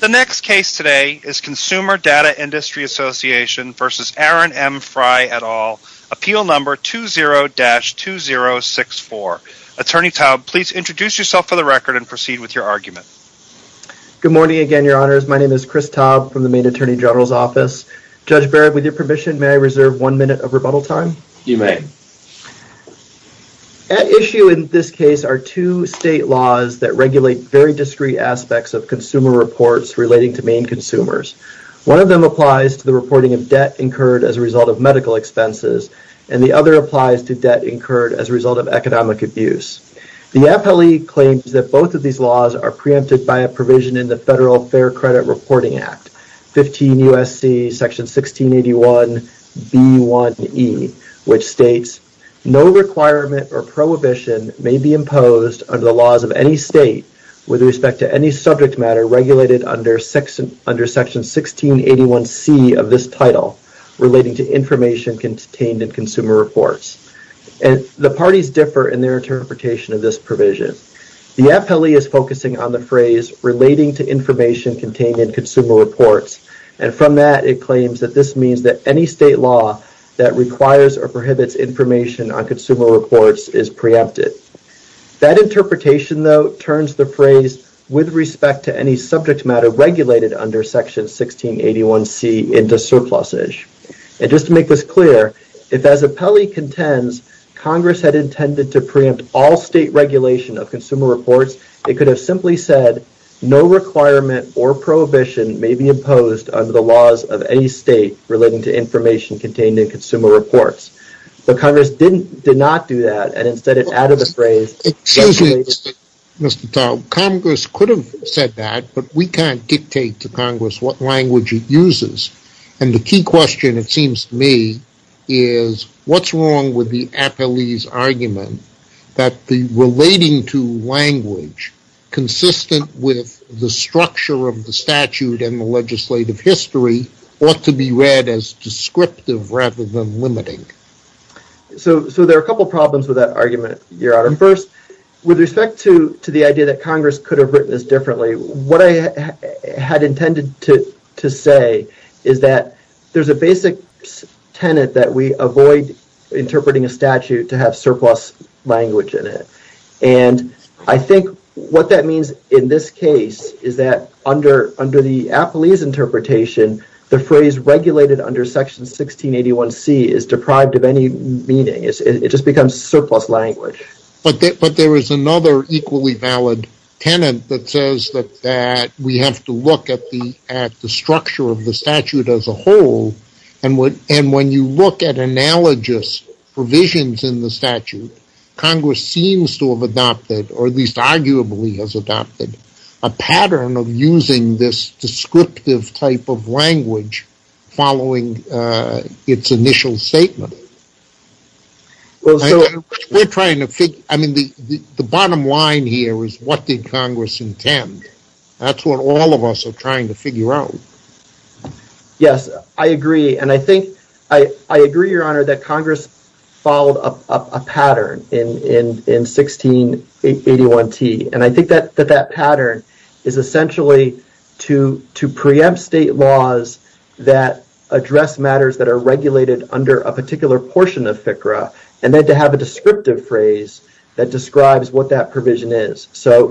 The next case today is Consumer Data Industry Association v. Aaron M. Frey et al., Appeal No. 20-2064. Attorney Taub, please introduce yourself for the record and proceed with your argument. Good morning again, Your Honors. My name is Chris Taub from the Maine Attorney General's Office. Judge Barrett, with your permission, may I reserve one minute of rebuttal time? You may. At issue in this case are two state laws that regulate very discrete aspects of consumer reports relating to Maine consumers. One of them applies to the reporting of debt incurred as a result of medical expenses, and the other applies to debt incurred as a result of economic abuse. The Appellee claims that both of these laws are preempted by a provision in the Federal Fair Credit Reporting Act, 15 U.S.C. section 1681b1e, which states, ìNo requirement or prohibition may be imposed under the laws of any state with respect to any subject matter regulated under section 1681c of this title relating to information contained in consumer reports.î The parties differ in their interpretation of this provision. The Appellee is focusing on the phrase, ìrelating to information contained in consumer reports,î and from that it claims that this means that any state law that requires or prohibits information on consumer reports is preempted. That interpretation, though, turns the phrase ìwith respect to any subject matter regulated under section 1681cî into surplusage. And just to make this clear, if as Appellee contends, Congress had intended to preempt all state regulation of consumer reports, it could have simply said, ìNo requirement or prohibition may be imposed under the laws of any state relating to information contained in consumer reports.î But Congress did not do that and instead added the phrase ìregulatedî. Excuse me, Mr. Tao. Congress could have said that, but we canít dictate to Congress what language it uses. And the key question, it seems to me, is whatís wrong with the Appelleeís argument that the ìrelating toî language, consistent with the structure of the statute and the legislative history, ought to be read as descriptive rather than limiting. So there are a couple of problems with that argument, Your Honor. First, with respect to the idea that Congress could have written this differently, what I had intended to say is that thereís a basic tenet that we avoid interpreting a statute to have surplus language in it. And I think what that means in this case is that under the Appelleeís interpretation, the phrase ìregulated under section 1681Cî is deprived of any meaning. It just becomes surplus language. But there is another equally valid tenet that says that we have to look at the structure of the statute as a whole, and when you look at analogous provisions in the statute, Congress seems to have adopted, or at least arguably has adopted, a pattern of using this descriptive type of language following its initial statement. The bottom line here is what did Congress intend? Thatís what all of us are trying to figure out. Yes, I agree. And I think, I agree, Your Honor, that Congress followed a pattern in 1681T. And I think that that pattern is essentially to preempt state laws that address matters that are regulated under a particular portion of FCRA, and then to have a descriptive phrase that describes what that provision is. So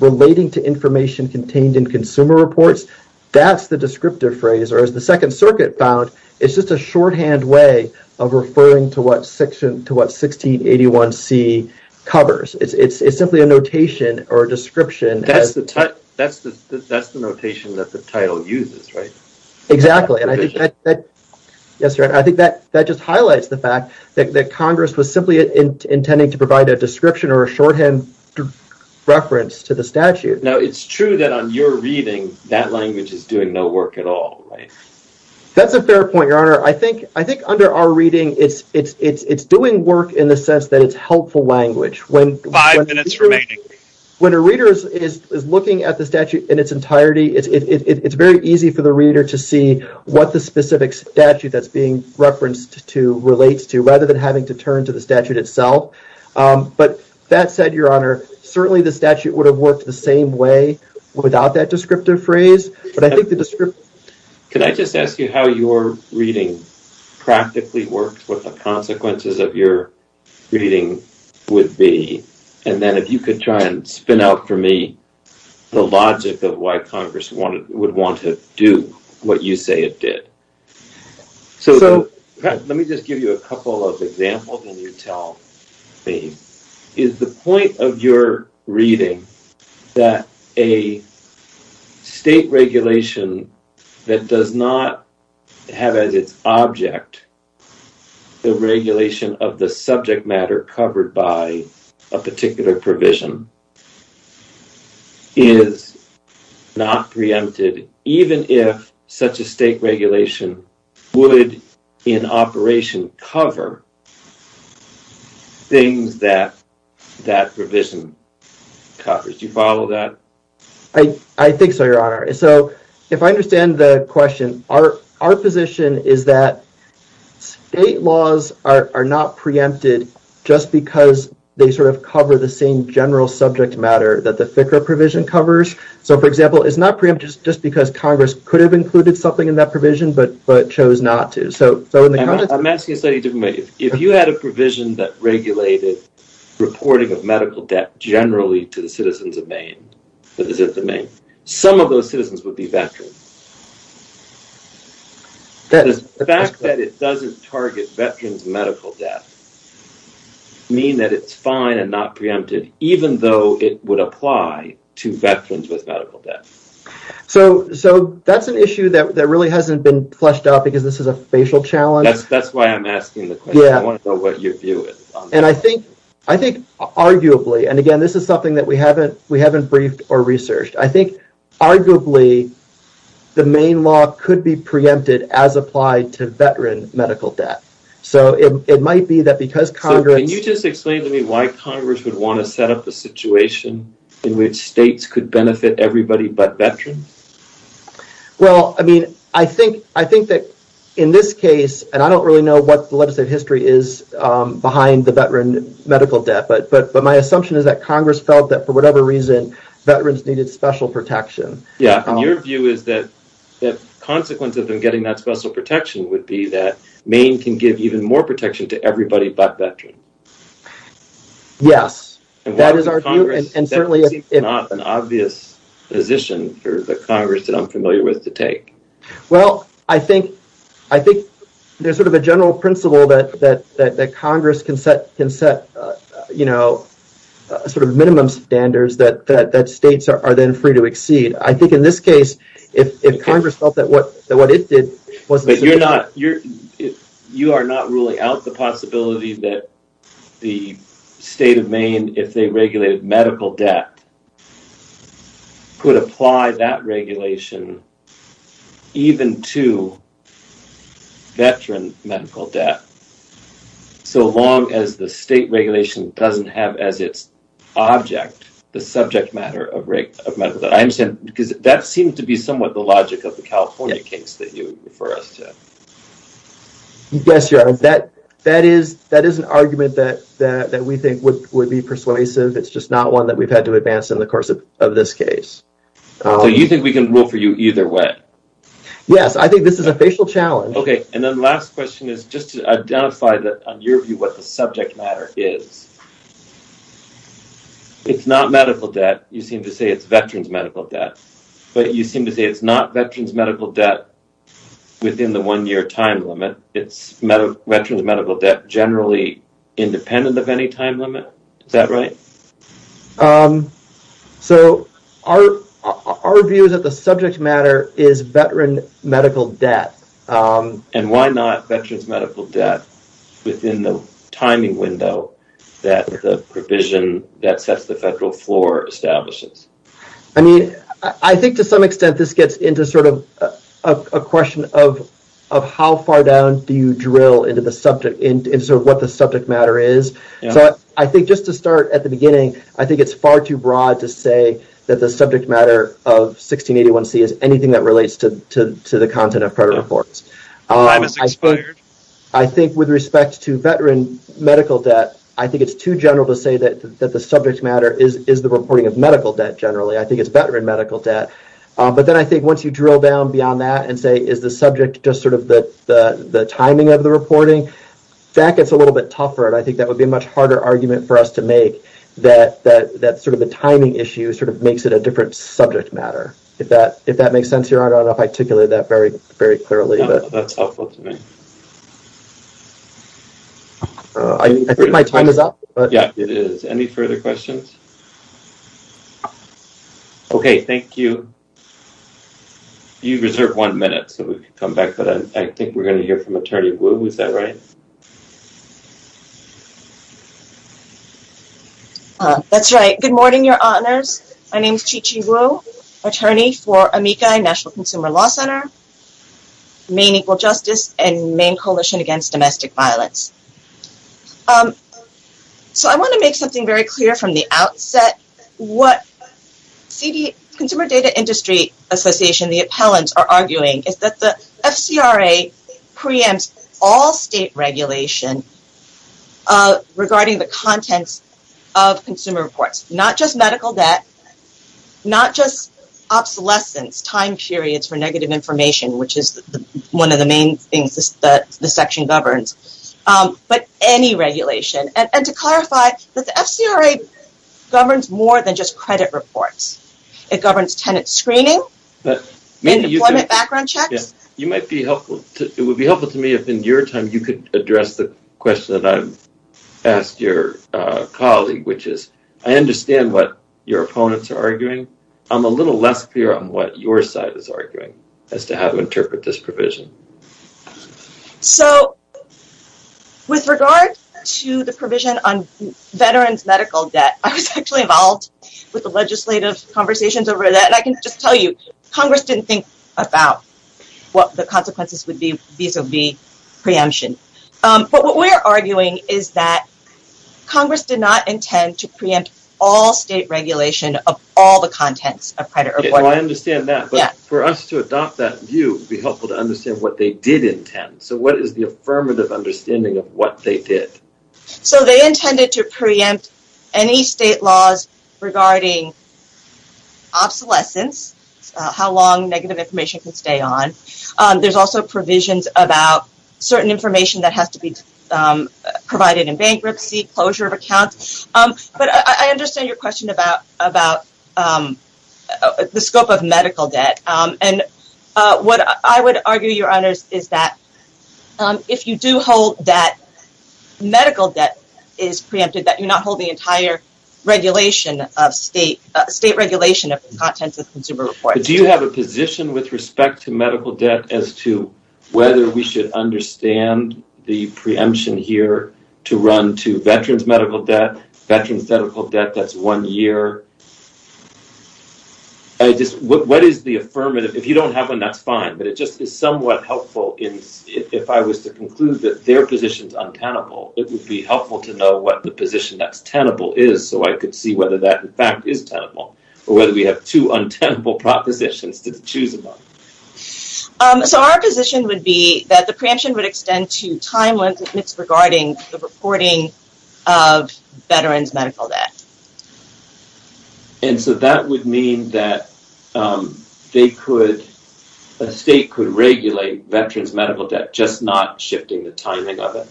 relating to information contained in consumer reports, thatís the descriptive phrase. Or as the Second Circuit found, itís just a shorthand way of referring to what 1681C covers. Itís simply a notation or a description. Thatís the notation that the title uses, right? Exactly. And I think that just highlights the fact that Congress was simply intending to provide a description or a shorthand reference to the statute. Now, itís true that on your reading, that language is doing no work at all, right? Thatís a fair point, Your Honor. I think under our reading, itís doing work in the sense that itís helpful language. Five minutes remaining. When a reader is looking at the statute in its entirety, itís very easy for the reader to see what the specific statute thatís being referenced to relates to, rather than having to turn to the statute itself. But that said, Your Honor, certainly the statute would have worked the same way without that descriptive phrase, but I think the descriptiveÖ Can I just ask you how your reading practically worked, what the consequences of your reading would be, and then if you could try and spin out for me the logic of why Congress would want to do what you say it did. So, let me just give you a couple of examples and you tell me. Is the point of your reading that a state regulation that does not have as its object the regulation of the subject matter covered by a particular provision is not preempted, even if such a state regulation would in operation cover things that that provision covers? Do you follow that? I think so, Your Honor. So, if I understand the question, our position is that state laws are not preempted just because they sort of cover the same general subject matter that the FCRA provision covers. So, for example, itís not preempted just because Congress could have included something in that provision but chose not to. Iím asking a slightly different way. If you had a provision that regulated reporting of medical debt generally to the citizens of Maine, some of those citizens would be veterans. Does the fact that it doesnít target veteransí medical debt mean that itís fine and not preempted even though it would apply to veterans with medical debt? So, thatís an issue that really hasnít been fleshed out because this is a facial challenge. Thatís why Iím asking the question. I want to know what your view is on that. I think arguably, and again, this is something that we havenít briefed or researched, I think arguably the Maine law could be preempted as applied to veteran medical debt. So, it might be that because CongressÖ So, can you just explain to me why Congress would want to set up a situation in which states could benefit everybody but veterans? Well, I mean, I think that in this case, and I donít really know what the legislative history is behind the veteran medical debt, but my assumption is that Congress felt that for whatever reason, veterans needed special protection. Yeah, and your view is that consequence of them getting that special protection would be that Maine can give even more protection to everybody but veterans. Yes. That is our view, and certainlyÖ That seems not an obvious position for the Congress that Iím familiar with to take. Well, I think thereís sort of a general principle that Congress can set sort of minimum standards that states are then free to exceed. I think in this case, if Congress felt that what it did wasÖ Youíre notÖ You are not ruling out the possibility that the state of Maine, if they regulated medical debt, could apply that regulation even to veteran medical debt, so long as the state regulation doesnít have as its object the subject matter of medical debt. I understand because that seems to be somewhat the logic of the California case that you refer us to. Yes, Your Honor. That is an argument that we think would be persuasive. Itís just not one that weíve had to advance in the course of this case. So you think we can rule for you either way? Yes, I think this is a facial challenge. Okay, and then the last question is just to identify that on your view what the subject matter is. Itís not medical debt. You seem to say itís veterans medical debt, but you seem to say itís not veterans medical debt within the one-year time limit. Itís veterans medical debt generally independent of any time limit. Is that right? So our view is that the subject matter is veteran medical debt. And why not veterans medical debt within the timing window that the provision that sets the federal floor establishes? I think to some extent this gets into sort of a question of how far down do you drill into what the subject matter is. I think just to start at the beginning, I think itís far too broad to say that the subject matter of 1681C is anything that relates to the content of credit reports. I think with respect to veteran medical debt, I think itís too general to say that the subject matter is the reporting of medical debt generally. I think itís veteran medical debt. But then I think once you drill down beyond that and say is the subject just sort of the timing of the reporting, that gets a little bit tougher and I think that would be a much harder argument for us to make that sort of the timing issue sort of makes it a different subject matter. If that makes sense, Your Honor, I donít know if I articulated that very clearly. No, thatís helpful to me. I think my time is up. Yeah, it is. Any further questions? Okay, thank you. You reserve one minute so we can come back to that. I think weíre going to hear from Attorney Wu. Is that right? Thatís right. Good morning, Your Honors. My name is Qiqi Wu, attorney for Amici National Consumer Law Center, Maine Equal Justice, and Maine Coalition Against Domestic Violence. So I want to make something very clear from the outset. What Consumer Data Industry Association, the appellants, are arguing is that the FCRA preempts all state regulation regarding the contents of consumer reports, not just medical debt, not just obsolescence, time periods for negative information, which is one of the main things that the section governs, but any regulation. And to clarify, the FCRA governs more than just credit reports. It would be helpful to me if in your time you could address the question that Iíve asked your colleague, which is, I understand what your opponents are arguing. Iím a little less clear on what your side is arguing as to how to interpret this provision. So with regard to the provision on veteransí medical debt, I was actually involved with legislative conversations over that, and I can just tell you, Congress didnít think about what the consequences would be vis-a-vis preemption. But what weíre arguing is that Congress did not intend to preempt all state regulation of all the contents of credit reports. Well, I understand that, but for us to adopt that view, it would be helpful to understand what they did intend. So what is the affirmative understanding of what they did? So they intended to preempt any state laws regarding obsolescence, how long negative information can stay on. Thereís also provisions about certain information that has to be provided in bankruptcy, closure of accounts. But I understand your question about the scope of is preempted, that youíre not holding entire regulation of state regulation of the contents of consumer reports. Do you have a position with respect to medical debt as to whether we should understand the preemption here to run to veteransí medical debt, veteransí medical debt thatís one year? What is the affirmative? If you donít have one, thatís fine, but it just is somewhat helpful if I was to conclude that their positionís untenable, it would be helpful to know what the position thatís tenable is so I could see whether that, in fact, is tenable or whether we have two untenable propositions to choose among. So our position would be that the preemption would extend to time limits regarding the reporting of veteransí medical debt. And so that would mean that they could, a state could regulate veteransí medical debt just not shifting the timing of it?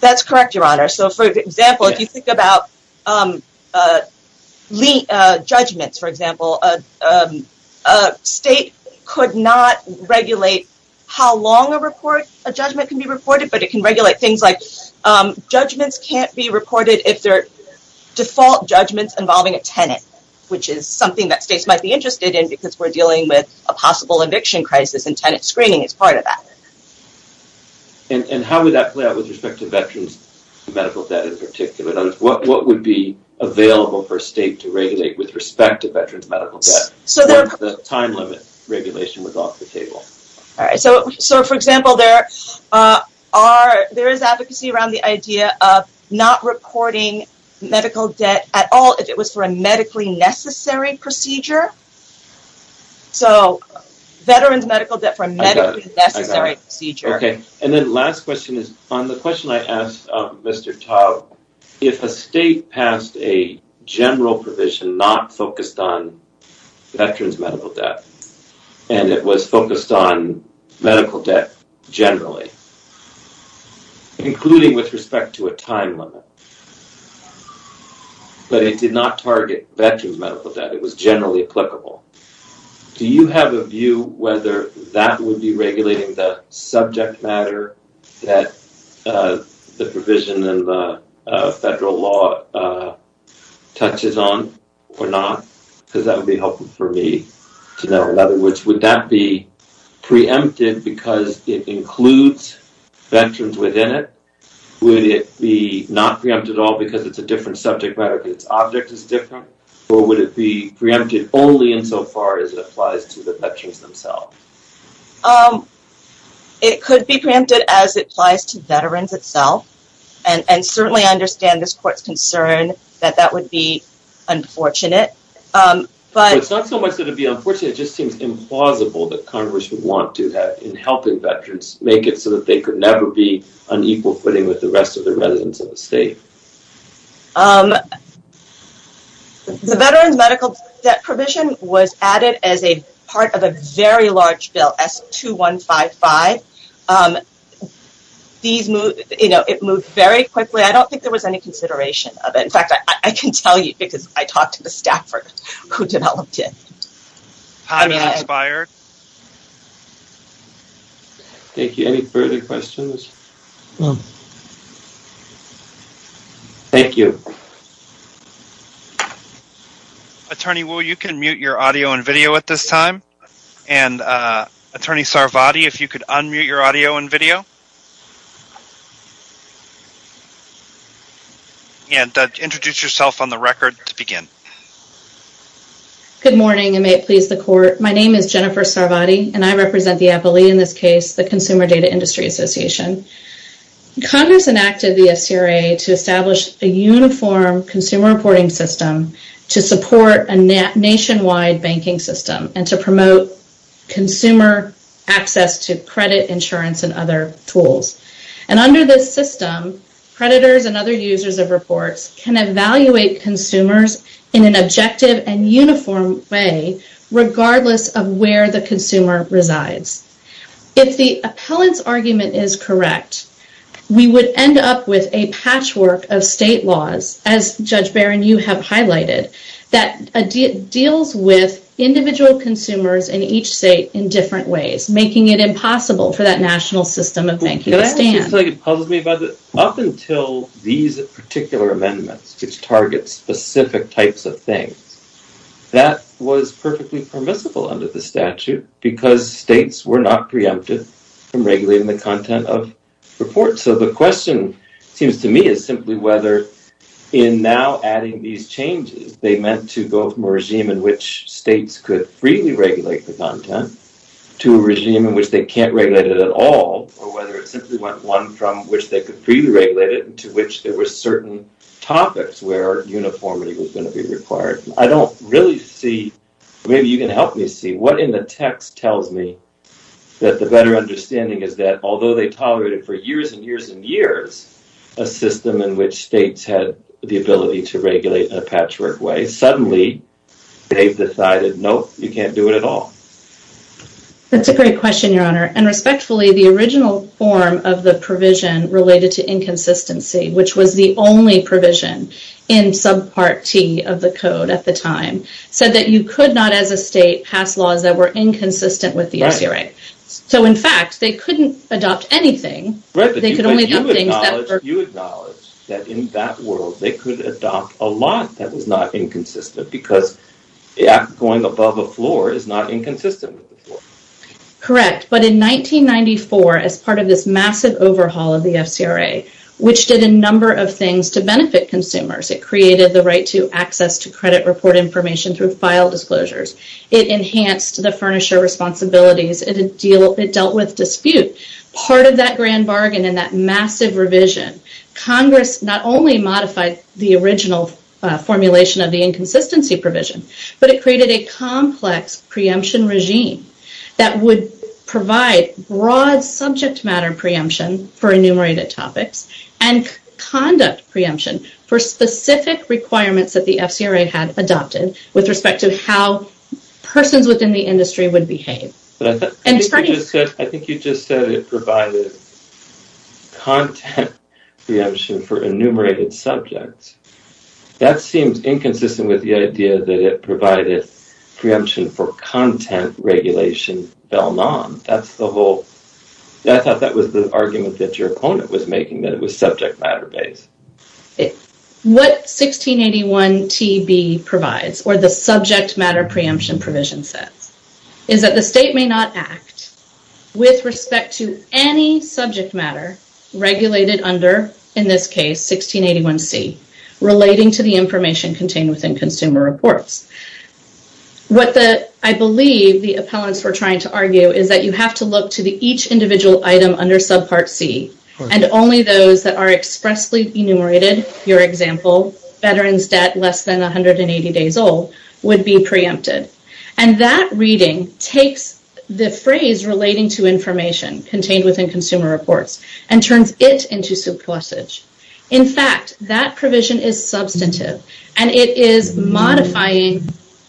Thatís correct, Your Honor. So, for example, if you think about judgments, for example, a state could not regulate how long a report, a judgment can be reported, but it can regulate things like judgments canít be reported if theyíre default judgments involving a tenant, which is something that states might be interested in because weíre dealing with a possible eviction crisis and tenant screening is part of that. And how would that play out with respect to veteransí medical debt in particular? What would be available for a state to regulate with respect to veteransí medical debt if the time limit regulation was off the table? All right. So, for example, there are, there is advocacy around the idea of not reporting medical debt at all if it was for a medically necessary procedure. So, veteransí medical debt for a medically necessary procedure. Okay. And then last question is, on the question I asked Mr. Tau, if a state passed a general provision not focused on veteransí medical debt and it was focused on medical debt generally, including with respect to a time limit, but it did not target veteransí medical debt, it was generally applicable, do you have a view whether that would be regulating the subject matter that the provision in the federal law touches on or not? Because that would be helpful for me to know. In other words, would that be preempted because it includes veterans within it? Would it be not preempted at all because itís a different subject matter because its object is different? Or would it be preempted only insofar as it applies to the veterans themselves? It could be preempted as it applies to veterans itself. And certainly I understand this courtís concern that that would be unfortunate. ButÖ Itís not so much that it would be unfortunate, it just seems implausible that Congress would want to have, in helping veterans, make it so that they could never be on equal footing with the rest of the residents of the state. The Veterans Medical Debt Provision was added as a part of a very large bill, S2155. It moved very quickly. I donít think there was any consideration of it. In fact, I can tell you because I talked to the staffer who developed it. Time has expired. Thank you. Any further questions? Thank you. Attorney Wu, you can mute your audio and video at this time. And Attorney Sarvati, if you could unmute your audio and video. And introduce yourself on the record to begin. Good morning, and may it please the court. My name is Jennifer Sarvati, and I represent the appellee in this case, the Consumer Data Industry Association. Congress enacted the bill to establish a uniform consumer reporting system to support a nationwide banking system and to promote consumer access to credit insurance and other tools. And under this system, creditors and other users of reports can evaluate consumers in an objective and uniform way, regardless of where the consumer resides. If the appellantís argument is correct, we would end up with a patchwork of state laws, as, Judge Barron, you have highlighted, that deals with individual consumers in each state in different ways, making it impossible for that national system of banking to stand. That actually puzzles me. Up until these particular amendments, which target specific types of states, were not preempted from regulating the content of reports. So the question, it seems to me, is simply whether, in now adding these changes, they meant to go from a regime in which states could freely regulate the content, to a regime in which they canít regulate it at all, or whether it simply went one from which they could freely regulate it, to which there were certain topics where uniformity was going to be required. I donít really see, maybe you can help me see, what in the text tells me that the better understanding is that, although they tolerated for years and years and years a system in which states had the ability to regulate in a patchwork way, suddenly theyíve decided, ìNope, you canít do it at all.î Thatís a great question, Your Honor. And respectfully, the original form of the provision related to inconsistency, which was the only provision in Subpart T of the Code at the time, said that you could not, as a state, pass laws that were inconsistent with the RCRA. So in fact, they couldnít adopt anything. Right, but you acknowledge that in that world they could adopt a law that was not inconsistent because the act of going above a floor is not inconsistent with the floor. Correct, but in 1994, as part of this massive overhaul of the FCRA, which did a number of things to benefit consumers, it created the right to access to credit report information through file disclosures, it enhanced the furnisher responsibilities, it dealt with dispute. Part of that grand bargain and that massive revision, Congress not only modified the original formulation of the inconsistency provision, but it created a complex preemption regime that would provide broad subject matter preemption for enumerated topics and conduct preemption for specific requirements that the FCRA had adopted with respect to how persons within the industry would behave. I think you just said it provided content preemption for enumerated subjects. That seems inconsistent with the idea that it provided preemption for content regulation bell-none. I thought that was the argument that your opponent was making, that it was subject matter-based. What 1681TB provides, or the subject matter preemption provision says, is that the state may not act with respect to any subject matter regulated under, in this case, 1681C, relating to the information contained within consumer reports. What I believe the appellants were trying to argue is that you have to look to each individual item under subpart C, and only those that are expressly enumerated, your example, veterans debt less than 180 days old, would be preempted. That reading takes the phrase relating to information contained within consumer reports, and turns it into surplusage. In fact, that provision is substantive, and it is modifying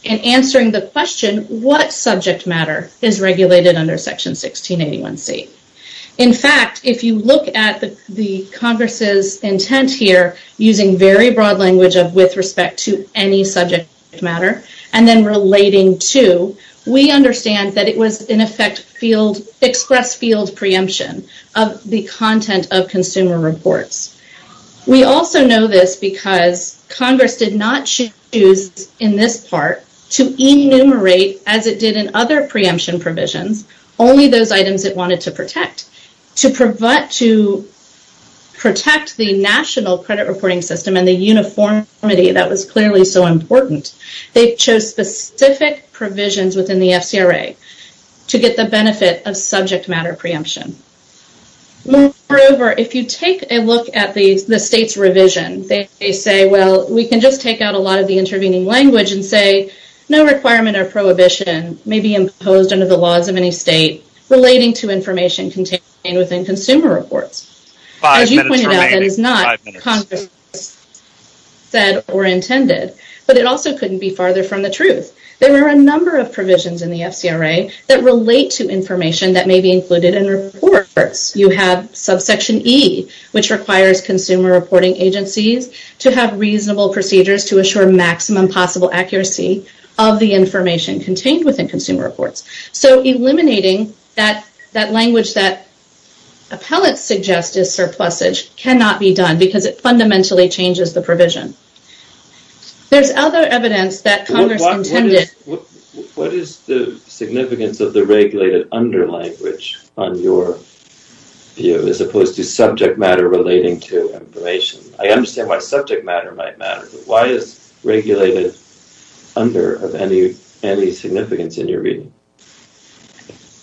and answering the question, what subject matter is regulated under Section 1681C? In fact, if you look at the Congress's intent here, using very broad language of with respect to any subject matter, and then relating to, we understand that it was, in the content of consumer reports. We also know this because Congress did not choose, in this part, to enumerate, as it did in other preemption provisions, only those items it wanted to protect. To protect the national credit reporting system and the uniformity that was clearly so important, they chose specific provisions within the FCRA to get the benefit of subject matter preemption. Moreover, if you take a look at the state's revision, they say, well, we can just take out a lot of the intervening language and say, no requirement or prohibition may be imposed under the laws of any state relating to information contained within consumer reports. As you pointed out, that is not Congress said or intended, but it also couldn't be farther from the truth. There were a number of provisions in the FCRA that relate to information that may be included in reports. You have subsection E, which requires consumer reporting agencies to have reasonable procedures to assure maximum possible accuracy of the information contained within consumer reports. Eliminating that language that appellants suggest is surplusage cannot be done because it fundamentally changes the provision. There's other evidence that Congress intended. What is the significance of the regulated under language on your view, as opposed to subject matter relating to information? I understand why subject matter might matter, but why is regulated under of any significance in your reading?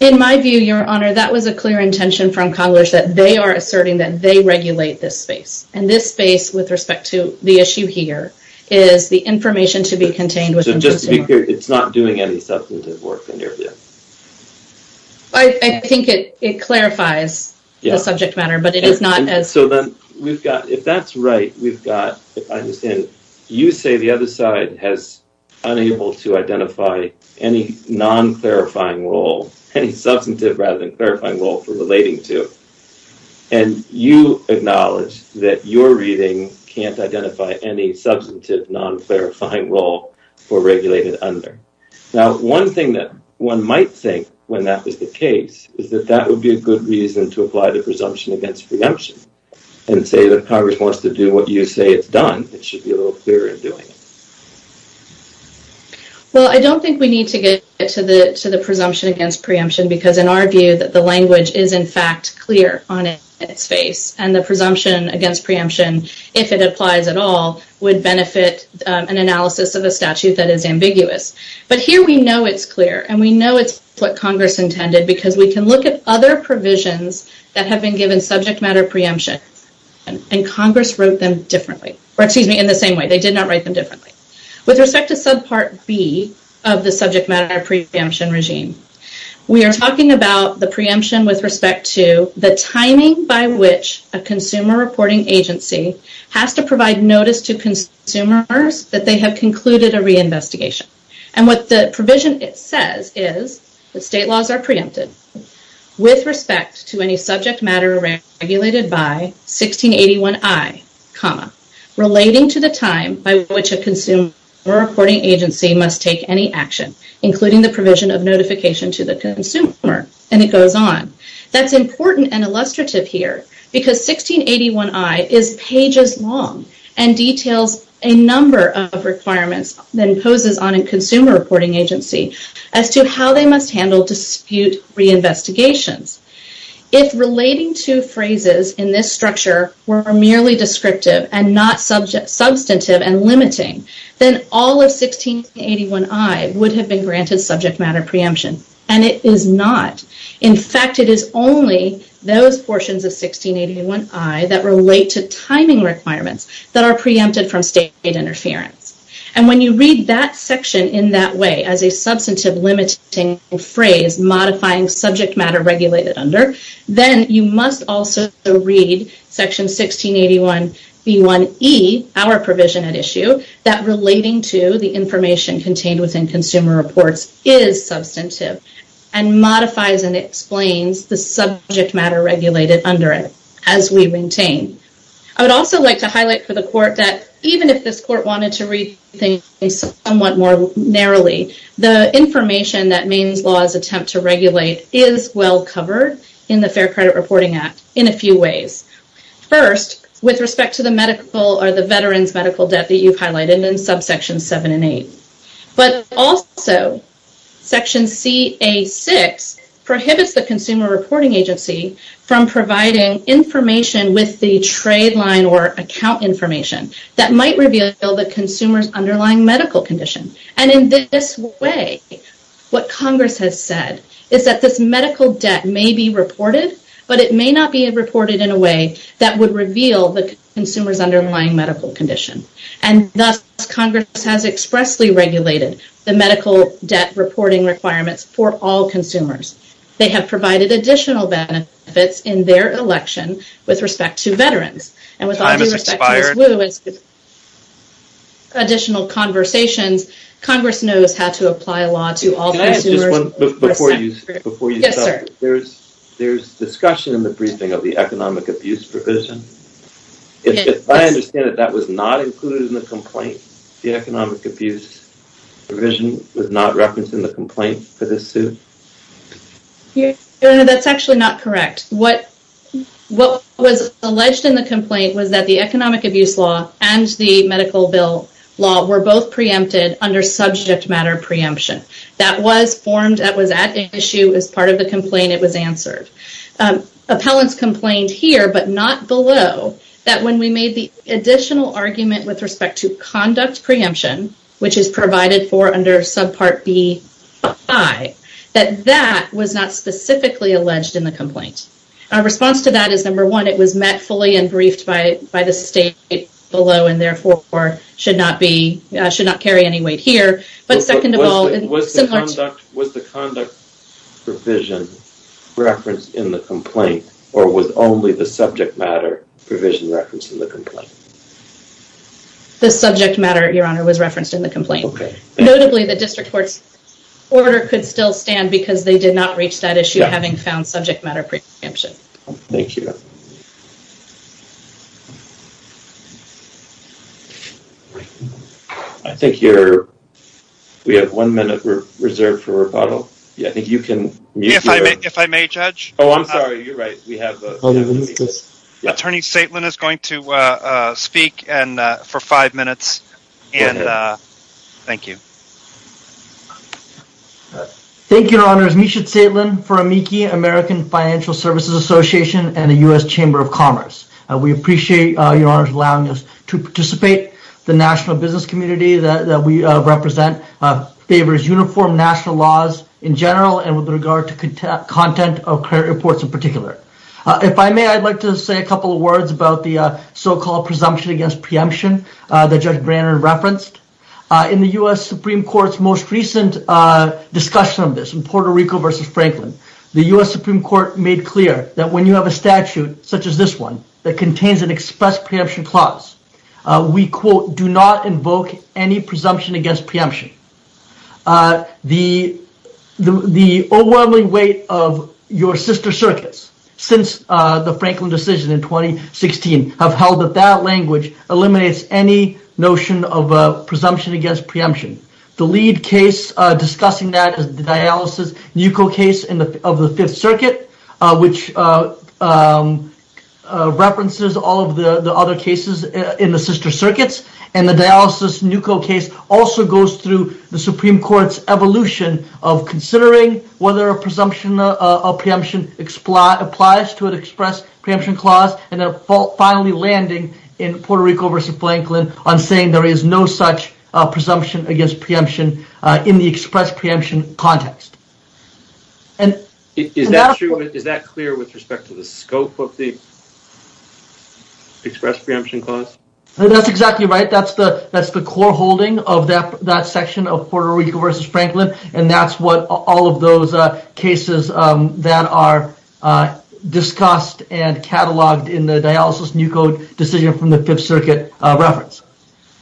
In my view, Your Honor, that was a clear intention from Congress that they are asserting that they regulate this space. This space, with respect to the issue here, is the information to be contained within consumer reports. Just to be clear, it's not doing any substantive work in your view? I think it clarifies the subject matter, but it is not as... If that's right, we've got, if I understand, you say the other side has unable to identify any non-clarifying role, any substantive rather than clarifying role for relating to. And you acknowledge that your reading can't identify any substantive non-clarifying role for regulated under. Now, one thing that one might think, when that was the case, is that that would be a good reason to apply the presumption against preemption and say that Congress wants to do what you say it's done. It should be a little clearer in doing it. Well, I don't think we need to get to the presumption against preemption because, in our view, that the language is, in fact, clear on its face and the presumption against preemption, if it applies at all, would benefit an analysis of a statute that is ambiguous. But here we know it's clear and we know it's what Congress intended because we can look at other provisions that have been given subject matter preemption and Congress wrote them differently, or excuse me, in the same way. They did not write them differently. With respect to subpart B of the subject matter preemption regime, we are talking about the preemption with respect to the timing by which a consumer reporting agency has to provide notice to consumers that they have concluded a reinvestigation. And what the provision says is that state laws are preempted with respect to any subject matter regulated by 1681I, relating to the time by which a consumer reporting agency must take any action, including the provision of notification to the consumer, and it goes on. That's important and illustrative here because 1681I is pages long and details a number of requirements that imposes on a consumer reporting agency as to how they must handle dispute reinvestigations. If relating to phrases in this structure were merely descriptive and not substantive and limiting, then all of 1681I would have been granted subject matter preemption, and it is not. In fact, it is only those portions of 1681I that relate to timing requirements that are preempted from state interference. And when you read that section in that way as a substantive limiting phrase, modifying subject matter regulated under, then you must also read section 1681B1E, our provision at issue, that relating to the information contained within consumer reports is substantive and modifies and explains the subject matter regulated under it as we maintain. I would also like to highlight for the Court that even if this Court wanted to read things somewhat more narrowly, the information that Maine's laws attempt to regulate is well covered in the Fair Credit Reporting Act in a few ways. First, with respect to the medical or the veterans' medical debt that you've highlighted in subsections 7 and 8. But also, section CA6 prohibits the consumer reporting agency from providing information with the trade line or account information that might reveal the consumer's underlying medical condition. And in this way, what Congress has said is that this medical debt may be reported, but it may not be reported in a way that would reveal the consumer's underlying medical condition. And thus, Congress has expressly regulated the medical debt reporting requirements for all consumers. They have provided additional benefits in their election with respect to veterans. And with all due respect to Ms. Wu and additional conversations, Congress knows how to apply a law to all consumers. Before you stop, there's discussion in the briefing of the economic abuse provision. If I understand it, that was not included in the complaint? The economic abuse provision was not referenced in the complaint for this suit? No, that's actually not correct. What was alleged in the complaint was that the economic abuse law and the medical bill law were both preempted under subject matter preemption. That was formed, that was at issue as part of the complaint. It was answered. Appellants complained here, but not below, that when we made the additional argument with respect to conduct preemption, which is provided for under subpart B5, that that was not specifically alleged in the complaint. Our response to that is, number one, it was met fully and briefed by the state below and therefore should not carry any weight here. Was the conduct provision referenced in the complaint, or was only the subject matter provision referenced in the complaint? The subject matter, Your Honor, was referenced in the complaint. Notably, the district court's order could still stand because they did not reach that issue having found subject matter preemption. Thank you. I think we have one minute reserved for rebuttal. If I may, Judge? Oh, I'm sorry, you're right. Attorney Saitlin is going to speak for five minutes. Thank you. Thank you, Your Honors. Misha Saitlin for AMICI, American Financial Services Association and the U.S. Chamber of Commerce. We appreciate, Your Honors, allowing us to participate. The national business community that we represent favors uniform national laws in general and with regard to content of credit reports in particular. If I may, I'd like to say a couple of words about the so-called presumption against preemption that Judge Brannan referenced. In the U.S. Supreme Court's most recent discussion of this, in Puerto Rico v. Franklin, the U.S. Supreme Court made clear that when you have a statute such as this one that contains an express preemption clause, we, quote, do not invoke any presumption against preemption. The overwhelming weight of your sister circuits since the Franklin decision in 2016 have held that that language eliminates any notion of presumption against preemption. The lead case discussing that is the Dialysis-Nuco case of the Fifth Circuit, which references all of the other cases in the sister circuits. And the Dialysis-Nuco case also goes through the Supreme Court's evolution of considering whether a presumption of preemption applies to an express preemption clause. And then finally landing in Puerto Rico v. Franklin on saying there is no such presumption against preemption in the express preemption context. Is that clear with respect to the scope of the express preemption clause? That's exactly right. That's the core holding of that section of Puerto Rico v. Franklin. And that's what all of those cases that are discussed and cataloged in the Dialysis-Nuco decision from the Fifth Circuit reference.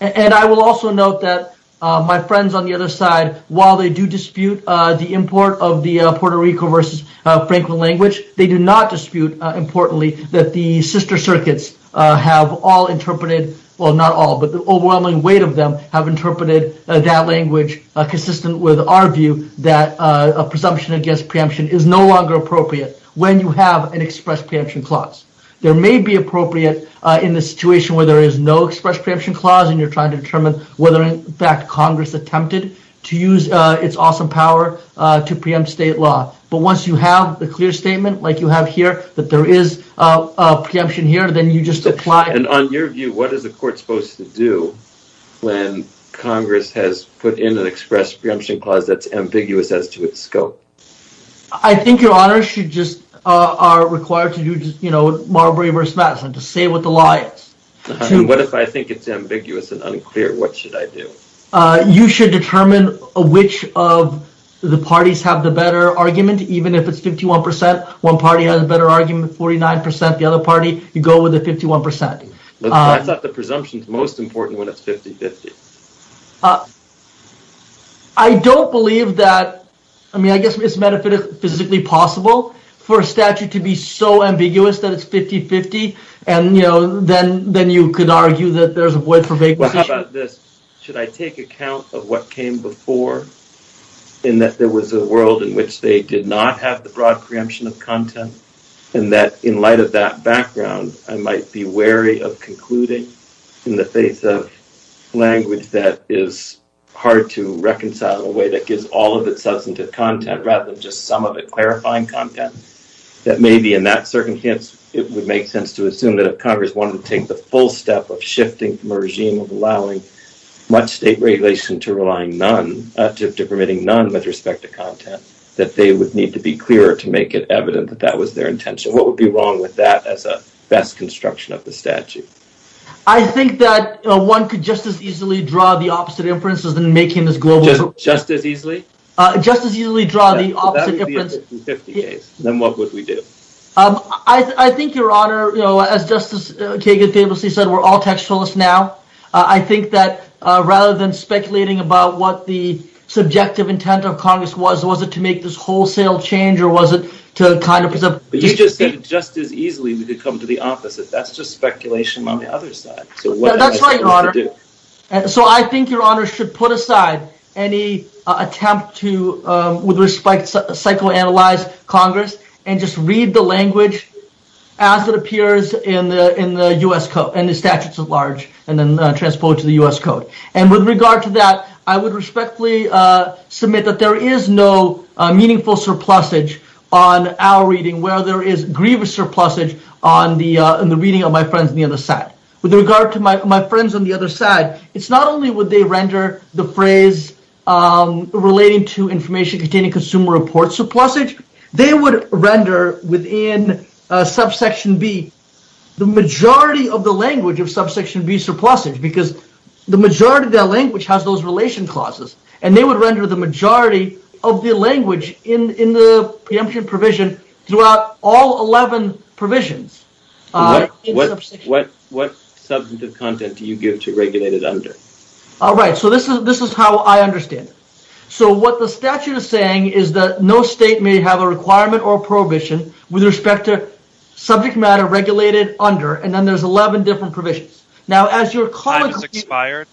And I will also note that my friends on the other side, while they do dispute the import of the Puerto Rico v. Franklin language, they do not dispute, importantly, that the sister circuits have all interpreted, well not all, but the overwhelming weight of them have interpreted that language consistent with our view that a presumption against preemption is no longer appropriate when you have an express preemption clause. There may be appropriate in the situation where there is no express preemption clause and you're trying to determine whether in fact Congress attempted to use its awesome power to preempt state law. But once you have a clear statement like you have here that there is a preemption here, then you just apply it. And on your view, what is the court supposed to do when Congress has put in an express preemption clause that's ambiguous as to its scope? I think your honor should just are required to do, you know, Marbury v. Madison to say what the law is. What if I think it's ambiguous and unclear? What should I do? You should determine which of the parties have the better argument, even if it's 51 percent. One party has a better argument, 49 percent. The other party, you go with the 51 percent. I thought the presumption is most important when it's 50-50. I don't believe that. I mean, I guess it's metaphysically possible for a statute to be so ambiguous that it's 50-50. And, you know, then then you could argue that there's a void for vagueness. Well, how about this? Should I take account of what came before in that there was a world in which they did not have the broad preemption of content? And that in light of that background, I might be wary of concluding in the face of language that is hard to reconcile in a way that gives all of its substantive content rather than just some of it clarifying content. That maybe in that circumstance, it would make sense to assume that if Congress wanted to take the full step of shifting from a regime of allowing much state regulation to relying none to permitting none with respect to content, that they would need to be clearer to make it evident that that was their intention. What would be wrong with that as a best construction of the statute? I think that one could just as easily draw the opposite inferences than making this global. Just as easily? Just as easily draw the opposite inference. Then what would we do? I think, Your Honor, as Justice Kagan famously said, we're all textualists now. I think that rather than speculating about what the subjective intent of Congress was, was it to make this wholesale change or was it to kind of. But you just said just as easily we could come to the opposite. That's just speculation on the other side. That's right, Your Honor. So I think Your Honor should put aside any attempt to, with respect, psychoanalyze Congress and just read the language as it appears in the U.S. Code and the statutes at large and then transport to the U.S. Code. And with regard to that, I would respectfully submit that there is no meaningful surplusage on our reading where there is grievous surplusage on the reading of my friends on the other side. With regard to my friends on the other side, it's not only would they render the phrase relating to information containing consumer reports surplusage. They would render within subsection B the majority of the language of subsection B surplusage because the majority of that language has those relation clauses. And they would render the majority of the language in the preemption provision throughout all 11 provisions. What substantive content do you give to regulated under? All right, so this is how I understand it. So what the statute is saying is that no state may have a requirement or prohibition with respect to subject matter regulated under, and then there's 11 different provisions. Time has expired.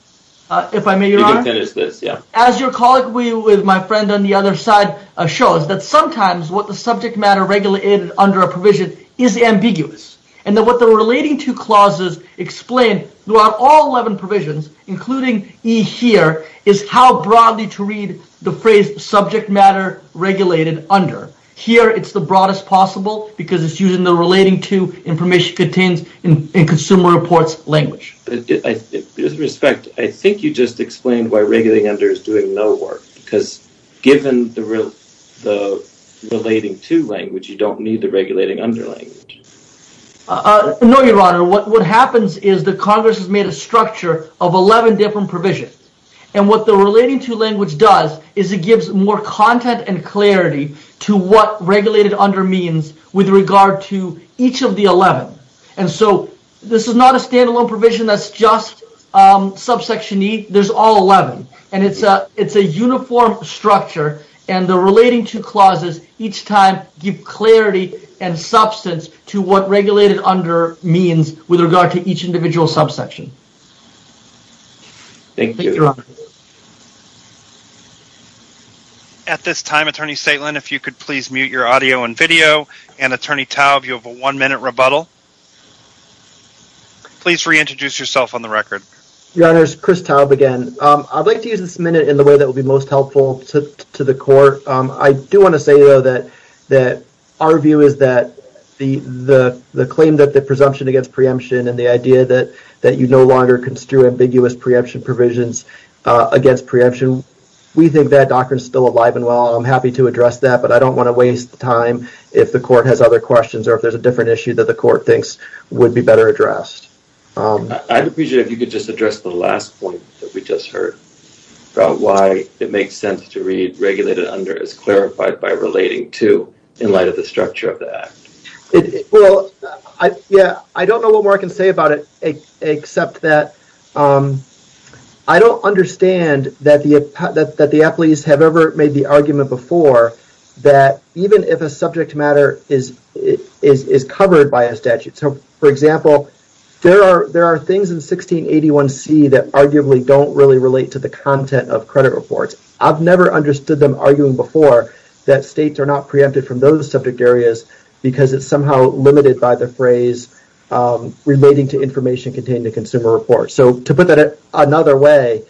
If I may, Your Honor. You can finish this, yeah. As your colleague with my friend on the other side shows, that sometimes what the subject matter regulated under a provision is ambiguous. And that what the relating to clauses explain throughout all 11 provisions, including E here, is how broadly to read the phrase subject matter regulated under. Here, it's the broadest possible because it's using the relating to information contains in consumer reports language. With respect, I think you just explained why regulating under is doing no work. Because given the relating to language, you don't need the regulating under language. No, Your Honor. What happens is that Congress has made a structure of 11 different provisions. And what the relating to language does is it gives more content and clarity to what regulated under means with regard to each of the 11. And so, this is not a standalone provision that's just subsection E. There's all 11. And it's a uniform structure. And the relating to clauses each time give clarity and substance to what regulated under means with regard to each individual subsection. Thank you. At this time, Attorney Stateland, if you could please mute your audio and video. And Attorney Taub, you have a one-minute rebuttal. Please reintroduce yourself on the record. Your Honor, it's Chris Taub again. I'd like to use this minute in the way that would be most helpful to the court. I do want to say, though, that our view is that the claim that the presumption against preemption and the idea that you no longer construe ambiguous preemption provisions against preemption, we think that doctrine is still alive and well. I'm happy to address that. But I don't want to waste time if the court has other questions or if there's a different issue that the court thinks would be better addressed. I'd appreciate if you could just address the last point that we just heard about why it makes sense to read regulated under as clarified by relating to in light of the structure of the act. Well, yeah, I don't know what more I can say about it except that I don't understand that the athletes have ever made the argument before that even if a subject matter is covered by a statute. For example, there are things in 1681C that arguably don't really relate to the content of credit reports. I've never understood them arguing before that states are not preempted from those subject areas because it's somehow limited by the phrase relating to information contained in a consumer report. So to put that another way,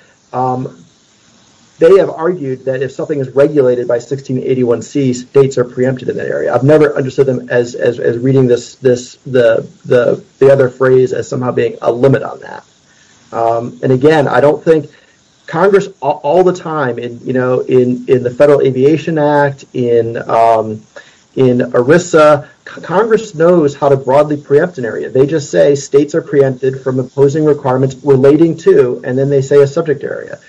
they have argued that if something is regulated by 1681C, states are preempted in that area. I've never understood them as reading the other phrase as somehow being a limit on that. And again, I don't think Congress all the time in the Federal Aviation Act, in ERISA, Congress knows how to broadly preempt an area. They just say states are preempted from imposing requirements relating to, and then they say a subject area.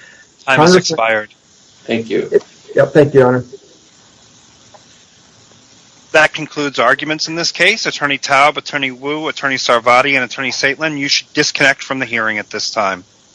Time has expired. Thank you. Thank you, Your Honor. That concludes arguments in this case. Attorney Taub, Attorney Wu, Attorney Cervati, and Attorney Saitlin, you should disconnect from the hearing at this time.